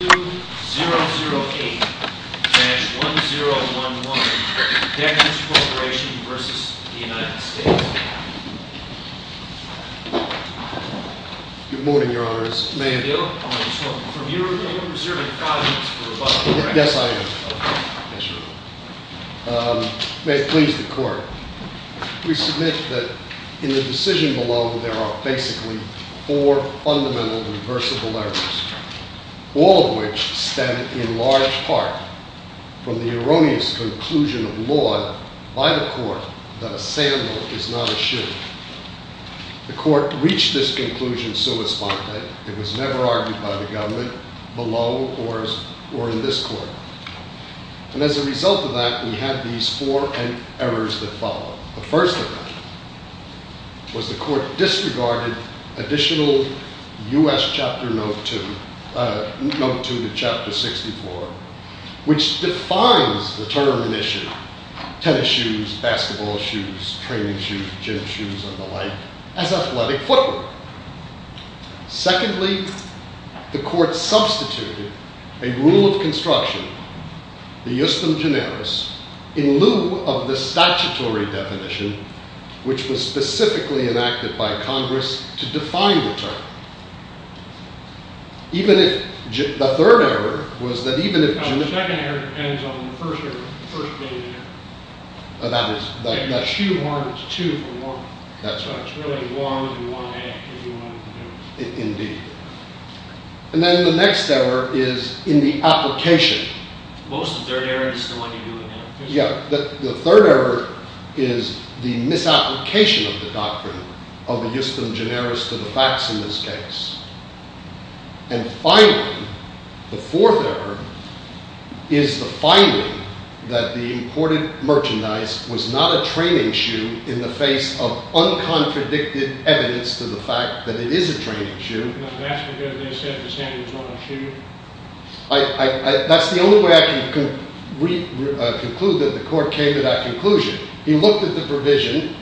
May it please the Court, we submit that in the decision below, there are basically four fundamental and reversible errors, all of which stem, in large part, from the erroneous conclusion of law by the Court that a sandal is not a shoe. The Court reached this conclusion so it's fine. It was never argued by the government, below, or in this Court. And as a result of that, we have these four errors that follow. The first error was the Court disregarded additional U.S. Chapter Note 2 to Chapter 64, which defines the term in issue, tennis shoes, basketball shoes, training shoes, gym shoes, and the like, as athletic footwear. Secondly, the Court substituted a rule of construction, the justum generis, in lieu of the statutory definition, which was specifically enacted by Congress to define the term. The third error was that even if... The second error ends on the first day of the year. That's true. It's 2 for 1. So it's really 1 and 1A if you wanted to do it. Indeed. And then the next error is in the application. Most of the third error is the one you're doing now. Yeah. The third error is the misapplication of the doctrine of the justum generis to the facts in this case. And finally, the fourth error is the finding that the imported merchandise was not a training shoe in the face of uncontradicted evidence to the fact that it is a training shoe. That's the only way I can conclude that the Court came to that conclusion. He looked at the provision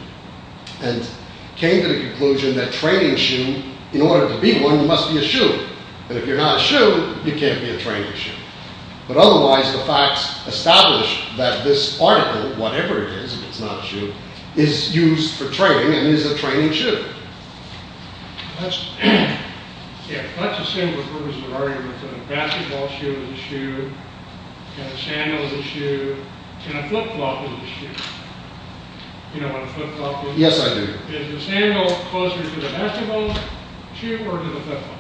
and came to the conclusion that training shoe, in order to be one, must be a shoe. And if you're not a shoe, you can't be a training shoe. But otherwise, the facts establish that this article, whatever it is, if it's not a shoe, is used for training and is a training shoe. Let's assume the purpose of the argument is that a basketball shoe is a shoe, and a sandal is a shoe, and a flip-flop is a shoe. Do you know what a flip-flop is? Yes, I do. Is the sandal closer to the basketball shoe or to the flip-flop?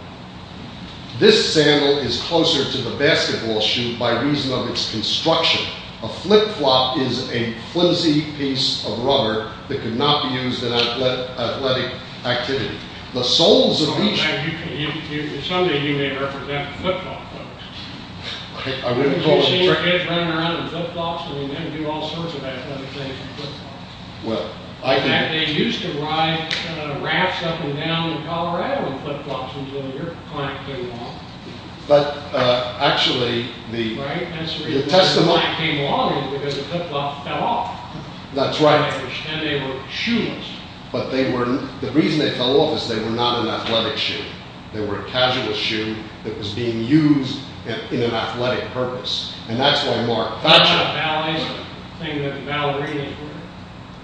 This sandal is closer to the basketball shoe by reason of its construction. A flip-flop is a flimsy piece of rubber that could not be used in athletic activity. The soles of each... Someday you may represent the flip-flop folks. Have you seen your kids running around in flip-flops? They do all sorts of athletic things in flip-flops. In fact, they used to ride rafts up and down in Colorado in flip-flops until your client came along. Actually, the client came along because the flip-flop fell off. That's right. And they were shoeless. But the reason they fell off is they were not an athletic shoe. They were a casual shoe that was being used in an athletic purpose. And that's why Mark... What about ballets or things that ballerinas wear?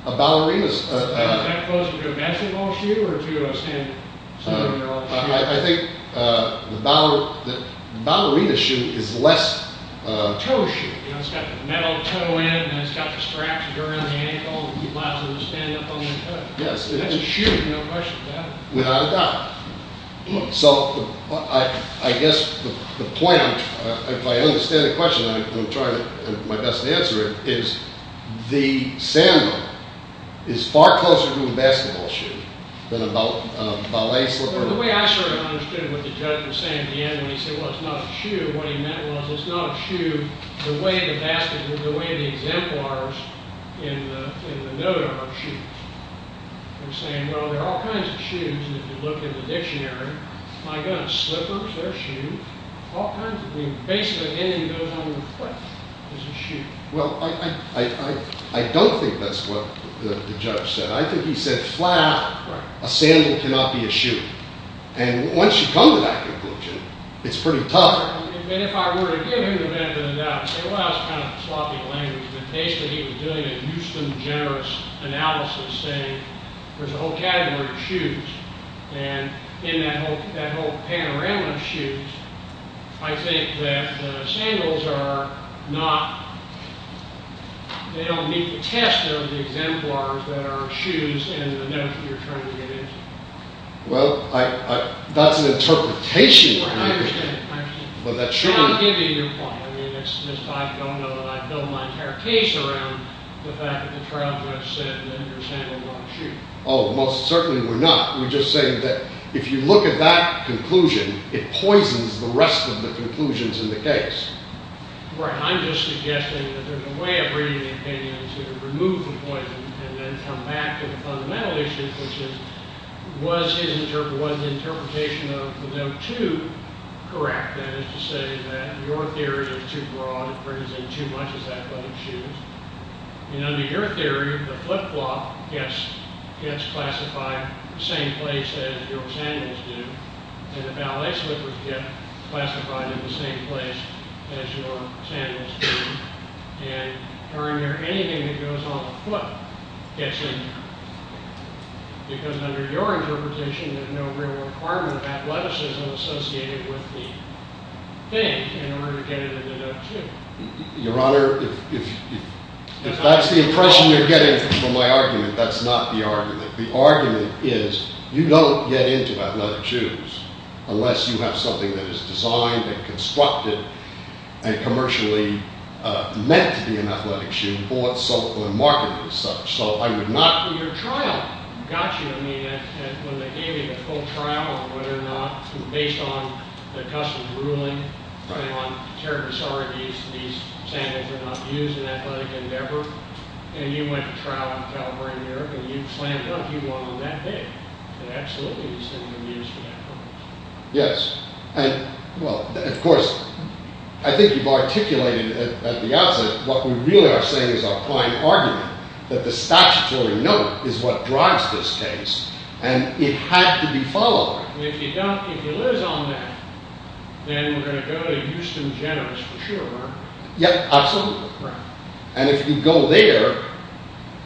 A ballerina's... Is that closer to a basketball shoe or to a sandal? I think the ballerina shoe is less a toe shoe. It's got the metal toe in and it's got the straps around the ankle. It allows them to stand up on their foot. That's a shoe, no question about it. Without a doubt. So, I guess the point... If I understand the question, I will try my best to answer it. The sandal is far closer to a basketball shoe than a ballet slipper. The way I sort of understood what the judge was saying at the end when he said, Well, it's not a shoe. What he meant was, it's not a shoe the way the exemplars in the note are shoes. He was saying, well, there are all kinds of shoes if you look in the dictionary. My goodness, slippers, they're shoes. All kinds of things. Basically, anything that goes on the plate is a shoe. Well, I don't think that's what the judge said. I think he said flat, a sandal cannot be a shoe. And once you come to that conclusion, it's pretty tough. If I were to give him the benefit of the doubt, I'd say, well, that's kind of sloppy language. But basically, he was doing a Houston Generous analysis saying, there's a whole category of shoes. And in that whole panorama of shoes, I think that the sandals are not, they don't meet the test of the exemplars that are shoes in the notes you're trying to get into. Well, that's an interpretation. I understand. But that shouldn't. I'll give you your point. I mean, I don't know that I've built my entire case around the fact that the trial judge said that your sandals aren't shoes. Oh, most certainly we're not. We're just saying that if you look at that conclusion, it poisons the rest of the conclusions in the case. Right. I'm just suggesting that there's a way of reading the opinion to remove the poison and then come back to the fundamental issue, which is, was the interpretation of the note two correct? That is to say that your theory is too broad. It brings in too much of that bunch of shoes. And under your theory, the flip-flop gets classified in the same place as your sandals do. And the ballet slippers get classified in the same place as your sandals do. And during there, anything that goes on the flip gets in. Because under your interpretation, there's no real requirement of athleticism associated with the thing in order to get it in the note two. Your Honor, if that's the impression you're getting from my argument, that's not the argument. The argument is, you don't get into athletic shoes unless you have something that is designed and constructed and commercially meant to be an athletic shoe, bought, sold, or marketed as such. So I would not— Well, your trial got you. I mean, when they gave you the full trial on whether or not, based on the customs ruling, based on character disorder, these sandals were not used in an athletic endeavor, and you went to trial in Calvary, New York, and you slammed it up. You won on that day. It absolutely is something to be used for that purpose. Yes. And, well, of course, I think you've articulated at the outset what we really are saying is our client argument, that the statutory note is what drives this case, and it had to be followed. And if you don't—if you lose on that, then we're going to go to Houston, Gen. for sure, aren't we? Yep, absolutely. Right. And if you go there,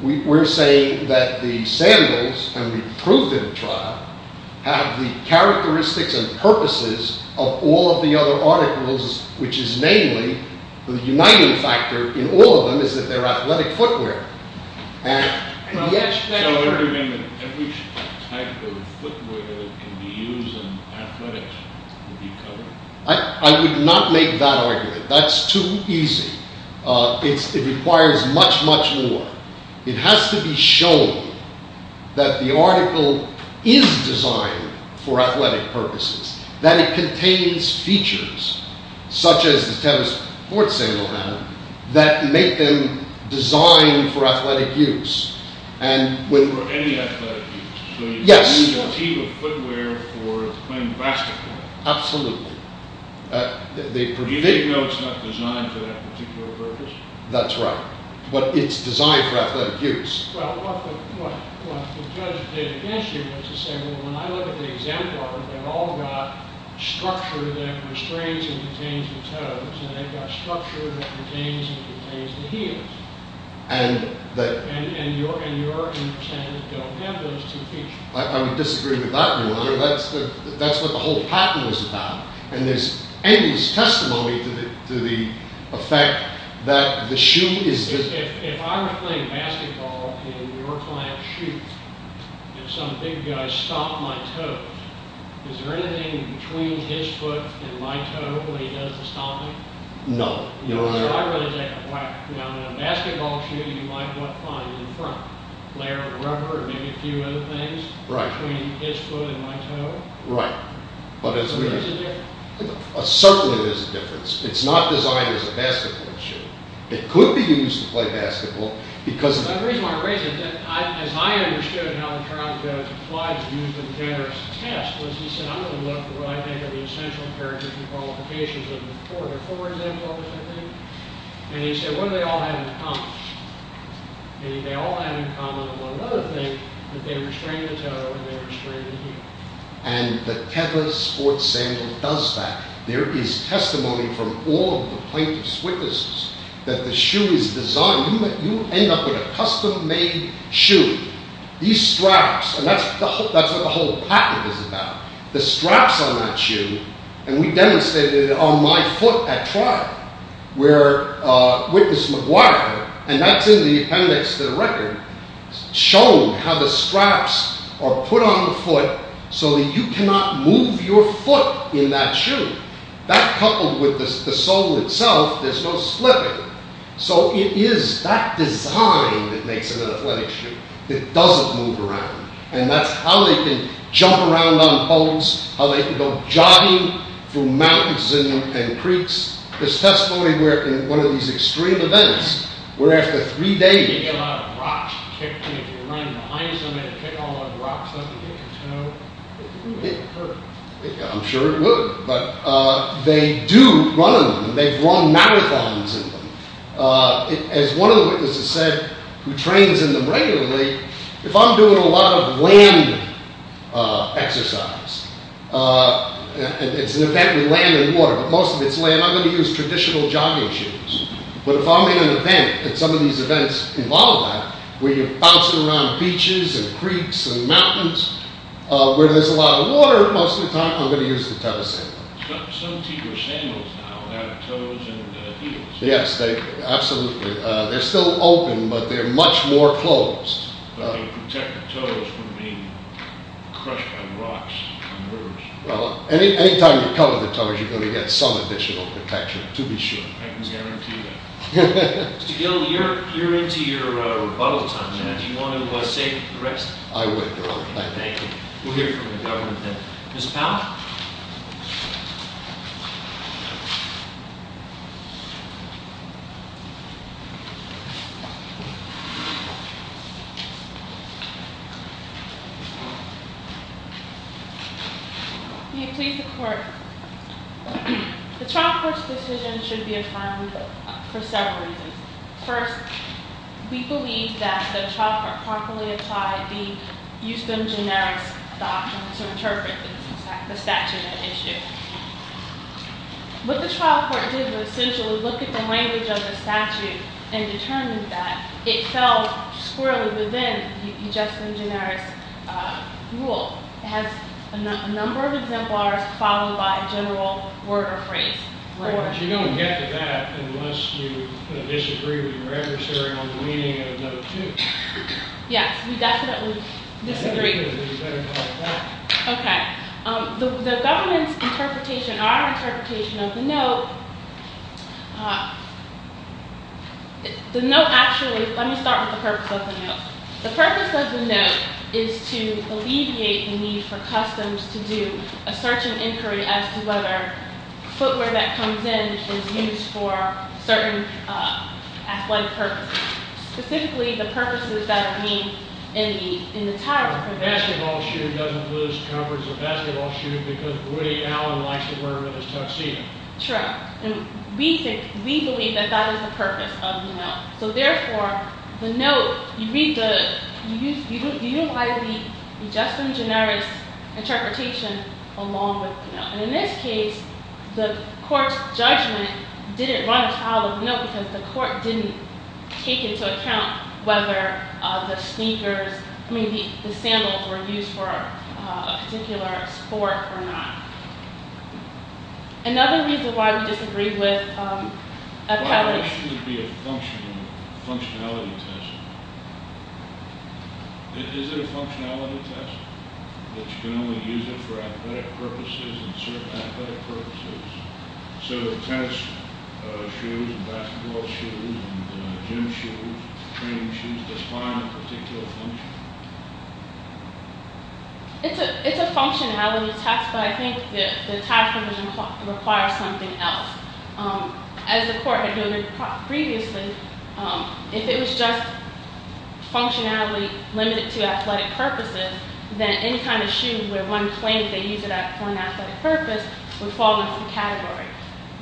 we're saying that the sandals, and we proved in the trial, have the characteristics and purposes of all of the other articles, which is mainly the uniting factor in all of them is that they're athletic footwear. And yet— So you're saying that every type of footwear that can be used in athletics would be covered? I would not make that argument. That's too easy. It requires much, much more. It has to be shown that the article is designed for athletic purposes, that it contains features, such as the tennis court sandal, that make them designed for athletic use. For any athletic use? Yes. So you need a team of footwear for playing basketball? Absolutely. Do you think, though, it's not designed for that particular purpose? That's right. But it's designed for athletic use. Well, what the judge did against you was to say, well, when I look at the example, they've all got structure that restrains and detains the toes, and they've got structure that retains and detains the heels. And your intent is to have those two features. I would disagree with that, Your Honor. That's what the whole patent was about. And there's endless testimony to the effect that the shoe is— If I was playing basketball in your client's shoe, and some big guy stomped my toe, is there anything between his foot and my toe that he does to stop me? No, Your Honor. So I really take a whack. Now, in a basketball shoe, you might not find in the front a layer of rubber or maybe a few other things between his foot and my toe. Right. Is there a difference? Certainly there's a difference. It's not designed as a basketball shoe. It could be used to play basketball because— The reason I raise it, as I understood how the trial judge applied the use of the generous test, was he said, I'm going to look for what I think are the essential characteristics and qualifications of the court. Are four examples of it, I think? And he said, what do they all have in common? They all have in common one other thing, that they restrain the toe, and they restrain the heel. And the Teva sports sample does that. There is testimony from all of the plaintiff's witnesses that the shoe is designed. You end up with a custom-made shoe. These straps, and that's what the whole patent is about. The straps on that shoe, and we demonstrated it on my foot at trial, where Witness McGuire, and that's in the appendix to the record, showed how the straps are put on the foot so that you cannot move your foot in that shoe. That coupled with the sole itself, there's no slipping. So it is that design that makes it an athletic shoe. It doesn't move around. And that's how they can jump around on boats, how they can go jogging through mountains and creeks. There's testimony where, in one of these extreme events, where after three days... I'm sure it would, but they do run in them. They've run marathons in them. As one of the witnesses said, who trains in them regularly, if I'm doing a lot of land exercise, and it's an event with land and water, but most of it's land, I'm going to use traditional jogging shoes. But if I'm in an event, and some of these events involve that, where you're bouncing around beaches and creeks and mountains, where there's a lot of water, most of the time I'm going to use the toe sandals. Yes, absolutely. They're still open, but they're much more closed. Anytime you cover the toes, you're going to get some additional protection, to be sure. Mr. Gill, you're into your rebuttal time now. Do you want to save the rest? I would, Your Honor. Thank you. We'll hear from the government then. Ms. Powell? May it please the Court. The trial court's decision should be applied for several reasons. First, we believe that the trial court properly applied the justem generis doctrine to interpret the statute at issue. What the trial court did was essentially look at the language of the statute and determined that it fell squarely within the justem generis rule. It has a number of exemplars, followed by a general word or phrase. But you don't get to that unless you disagree with your adversary on the meaning of note two. Yes, we definitely disagree. The government's interpretation, our interpretation of the note, the note actually, let me start with the purpose of the note. The purpose of the note is to alleviate the need for customs to do a search and inquiry as to whether footwear that comes in is used for certain athletic purposes. Specifically, the purposes that are being in the title. A basketball shoe doesn't lose the comfort of a basketball shoe because Woody Allen likes to wear it as a tuxedo. True. And we think, we believe that that is the purpose of the note. So therefore, the note, you read the, you utilize the justem generis interpretation along with the note. And in this case, the court's judgment didn't run a tile of note because the court didn't take into account whether the sneakers, I mean the sandals were used for a particular sport or not. Another reason why we disagree with Appellate's Why shouldn't it be a functionality test? Is it a functionality test? That you can only use it for athletic purposes and certain athletic purposes? So tennis shoes and basketball shoes and gym shoes, training shoes, define a particular function? It's a functionality test, but I think the title requires something else. As the court had noted previously, if it was just functionality limited to athletic purposes, then any kind of shoe where one claims they use it for an athletic purpose would fall into that category.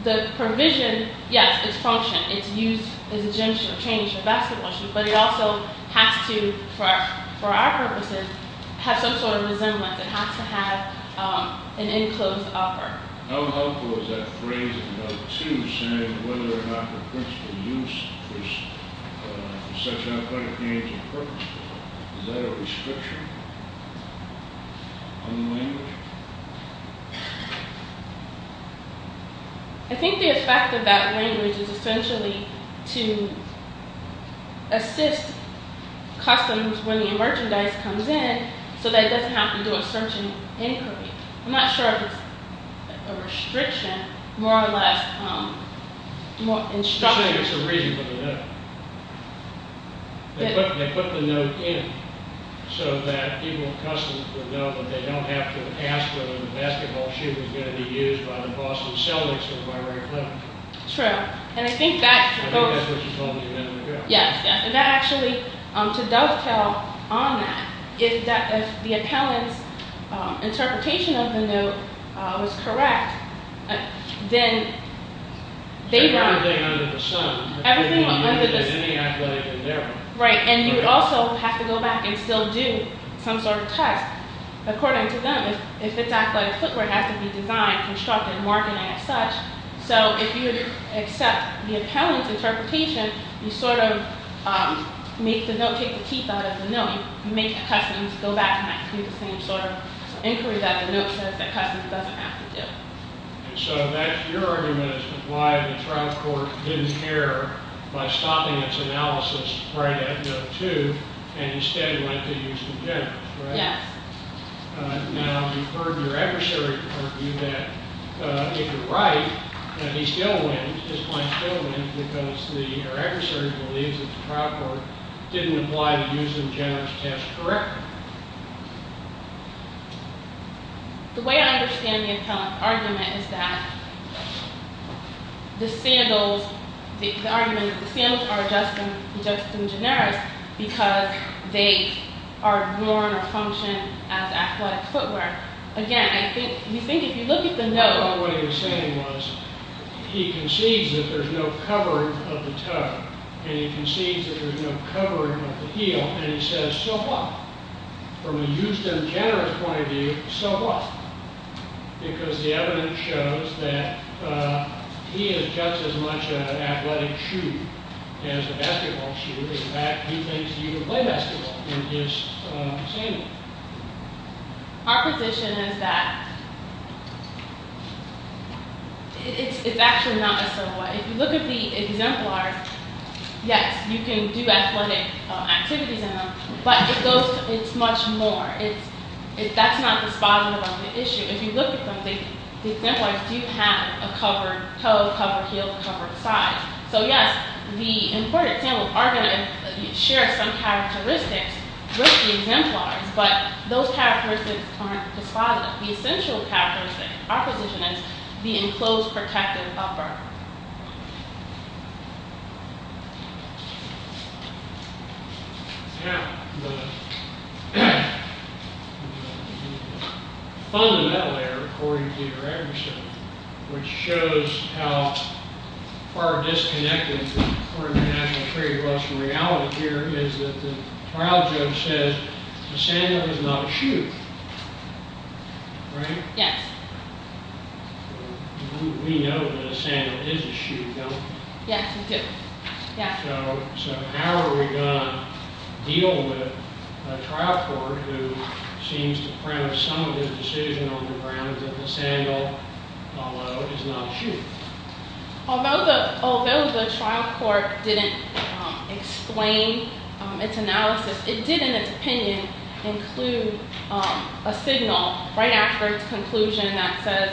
The provision, yes, it's function. It's used as a gym shoe or training shoe or basketball shoe, but it also has to, for our purposes, have some sort of resemblance. It has to have an enclosed upper. How helpful is that phrase in note 2 saying whether or not the principal use is for such athletic games and purposes? Is that a restriction on the language? I think the effect of that language is essentially to assist customers when the merchandise comes in so that it doesn't have to do a certain inquiry. I'm not sure if it's a restriction, more or less instruction. You're saying it's a reason for the note. They put the note in so that people at customs would know that they don't have to ask whether the basketball shoe was going to be used by the Boston Celtics or the Marietta Clinic. True. I think that's what you told me you had in the draft. Yes. That actually, to dovetail on that, if the appellant's interpretation of the note was correct, then they'd run. Everything under the sun. Everything under the sun. They wouldn't use it in any athletic endeavor. Right. You would also have to go back and still do some sort of test. According to them, if it's athletic footwear, it has to be designed, constructed, marked, and as such. If you accept the appellant's interpretation, you sort of make the note take the teeth out of the note. You make the customs go back and do the same sort of inquiry that the note says that customs doesn't have to do. So that's your argument as to why the trial court didn't care by stopping its analysis prior to Act No. 2 and instead went to use the general, right? Yes. Now, you've heard your adversary argue that if you're right, that he still wins, his client still wins, because your adversary believes that the trial court didn't apply the use of generis test correctly. The way I understand the appellant's argument is that the sandals are adjusted in generis because they are worn or function as athletic footwear. Again, I think if you look at the note. What he was saying was he concedes that there's no covering of the toe and he concedes that there's no covering of the heel and he says so what? From a use of generis point of view, so what? Because the evidence shows that he is just as much an athletic shoe as a basketball shoe. In fact, he thinks he can play basketball in his sandals. Our position is that it's actually not a similar way. If you look at the exemplars, yes, you can do athletic activities in them, but it's much more. That's not the spot on the issue. If you look at them, the exemplars do have a covered toe, a covered heel, a covered side. So, yes, the imported sandals are going to share some characteristics with the exemplars, but those characteristics aren't dispositive. The essential characteristic, our position is the enclosed protective upper. Fundamentally, according to Peterson, which shows how far disconnected the court of international trade was from reality here, is that the trial judge says the sandal is not a shoe, right? Yes. We know that a sandal is a shoe, don't we? Yes, we do. So how are we going to deal with a trial court who seems to have some of the decision on the ground that the sandal, although, is not a shoe? Although the trial court didn't explain its analysis, it did, in its opinion, include a signal right after its conclusion that says,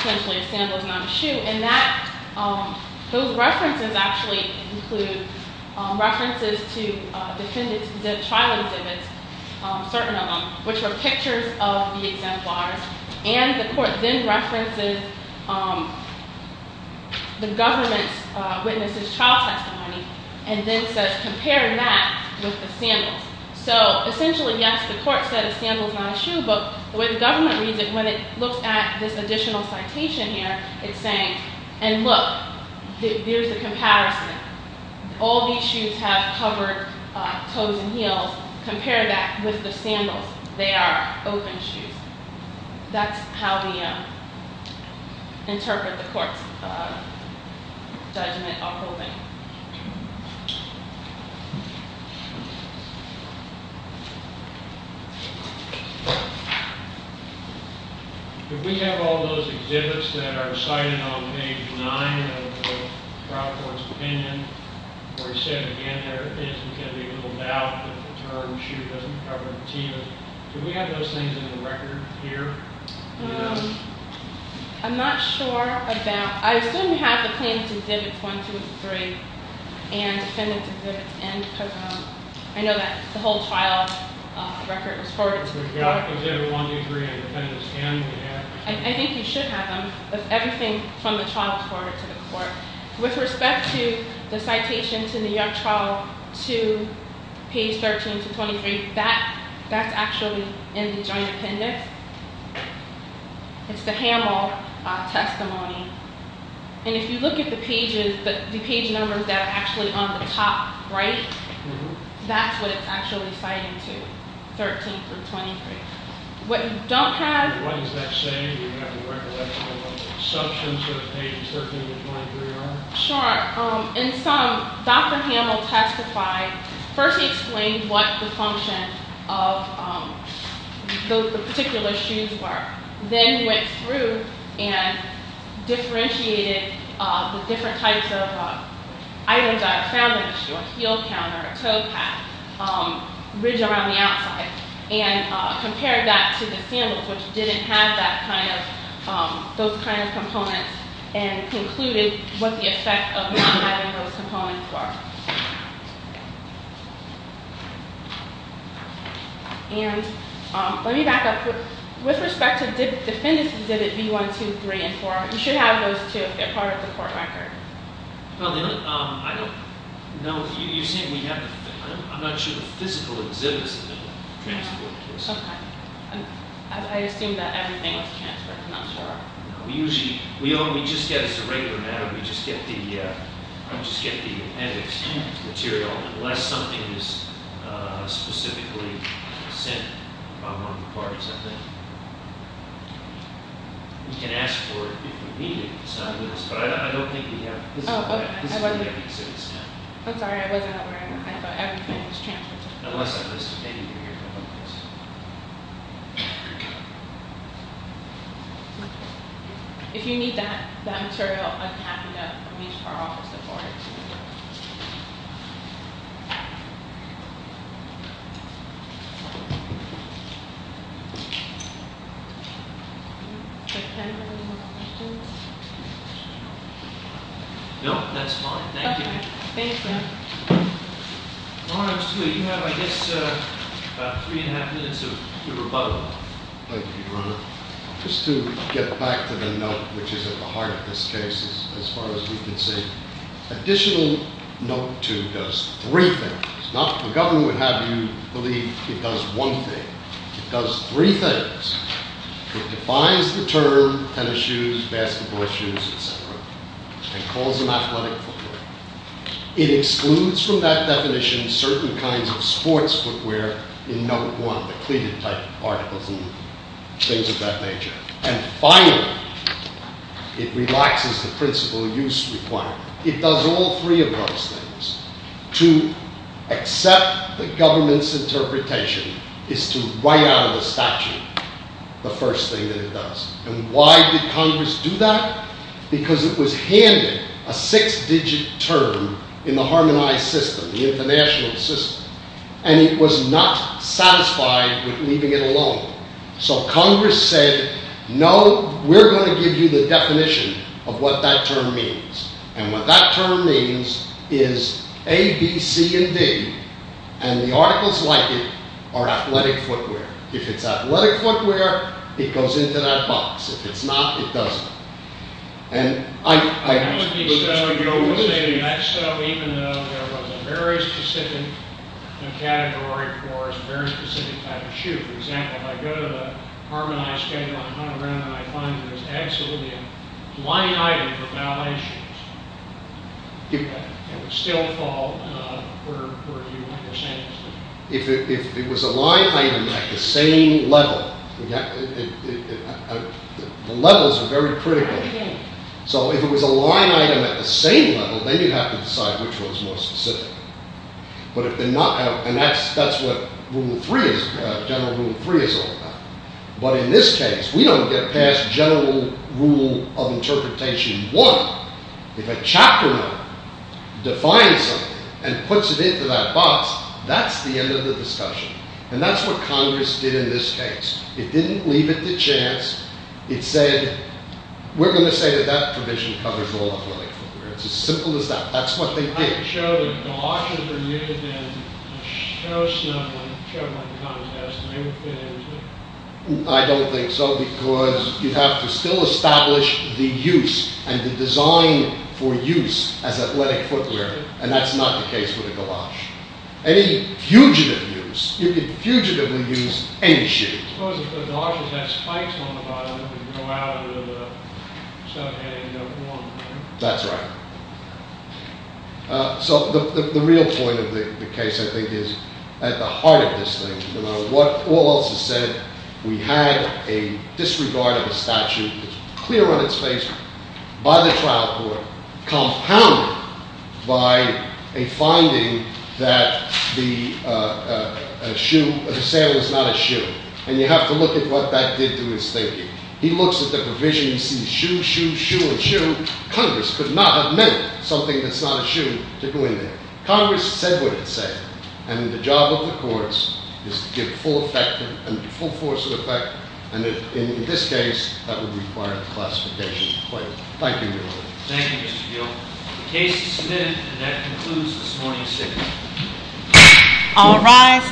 essentially, a sandal is not a shoe, and those references actually include references to trial exhibits, certain of them, which were pictures of the exemplars, and the court then references the government's witnesses' trial testimony and then says, compare that with the sandals. So, essentially, yes, the court said a sandal is not a shoe, but the way the government reads it, when it looks at this additional citation here, it's saying, and look, there's a comparison. All these shoes have covered toes and heels. Compare that with the sandals. They are open shoes. That's how we interpret the court's judgment on opening. If we have all those exhibits that are cited on page 9 of the trial court's opinion, where it said, again, there can be little doubt that the term shoe doesn't cover the teeth, do we have those things in the record here? I'm not sure about that. I assume we have the plaintiff's exhibits 1, 2, and 3, and the defendant's exhibits N, because I know that the whole trial record was forwarded to the court. We've got exhibit 1, 2, and 3, and the defendant's N, we have. I think you should have them, with everything from the trial court to the court. With respect to the citation to New York trial 2, page 13 to 23, that's actually in the joint appendix. It's the Hamel testimony. And if you look at the page numbers that are actually on the top right, that's what it's actually citing to, 13 through 23. What you don't have- What does that say? Do you have a recollection of what the assumptions are of page 13 to 23 are? Sure. In sum, Dr. Hamel testified. First he explained what the function of the particular shoes were. Then he went through and differentiated the different types of items that are found on the shoe, a heel counter, a toe pad, ridge around the outside, and compared that to the sandals, which didn't have those kind of components, and concluded what the effect of not having those components were. And let me back up. With respect to defendants exhibit B1, 2, 3, and 4, you should have those, too, if they're part of the court record. No, I don't- No, you're saying we have- I'm not sure the physical exhibits have been transferred. Sometimes. I assume that everything was transferred. I'm not sure. No, we usually- We only just get, as a regular matter, we just get the appendix material, unless something is specifically sent by one of the parties, I think. You can ask for it if you need it. But I don't think we have physical exhibits yet. I'm sorry, I wasn't aware of that. I thought everything was transferred. Unless I've missed anything here. If you need that material, I'm happy to reach for our office to forward it to you. Thank you. No, that's fine. Thank you. Okay. Thank you. Your Honor, you have, I guess, three and a half minutes of your rebuttal. Thank you, Your Honor. Just to get back to the note, which is at the heart of this case, as far as we can see. Additional note two does three things. Not that the government would have you believe it does one thing. It does three things. It defines the term tennis shoes, basketball shoes, etc. And calls them athletic footwear. It excludes from that definition certain kinds of sports footwear in note one. The cleated type particles and things of that nature. And finally, it relaxes the principle use requirement. It does all three of those things. To accept the government's interpretation is to write out of the statute the first thing that it does. And why did Congress do that? Because it was handed a six digit term in the harmonized system, the international system. And it was not satisfied with leaving it alone. So Congress said, no, we're going to give you the definition of what that term means. And what that term means is A, B, C, and D. And the articles like it are athletic footwear. If it's athletic footwear, it goes into that box. If it's not, it doesn't. And I... If it was a line item at the same level. The levels are very critical. So if it was a line item at the same level, then you'd have to decide which one's more specific. And that's what rule three is, general rule three is all about. But in this case, we don't get past general rule of interpretation one. If a chapter one defines something and puts it into that box, that's the end of the discussion. And that's what Congress did in this case. It didn't leave it to chance. It said, we're going to say that that provision covers all athletic footwear. It's as simple as that. That's what they did. I don't think so, because you'd have to still establish the use and the design for use as athletic footwear. And that's not the case with the galosh. Any fugitive use, you could fugitively use any shoe. That's right. So the real point of the case, I think, is at the heart of this thing. No matter what all else is said, we had a disregard of a statute that's clear on its face by the trial court, compounded by a finding that the sale is not a shoe. And you have to look at what that did to his thinking. He looks at the provision. He sees shoe, shoe, shoe, and shoe. Congress could not have meant something that's not a shoe to go in there. Congress said what it said. And the job of the courts is to give full force of effect. Thank you, Your Honor. Thank you, Mr. Gill. The case is submitted, and that concludes this morning's hearing. All rise.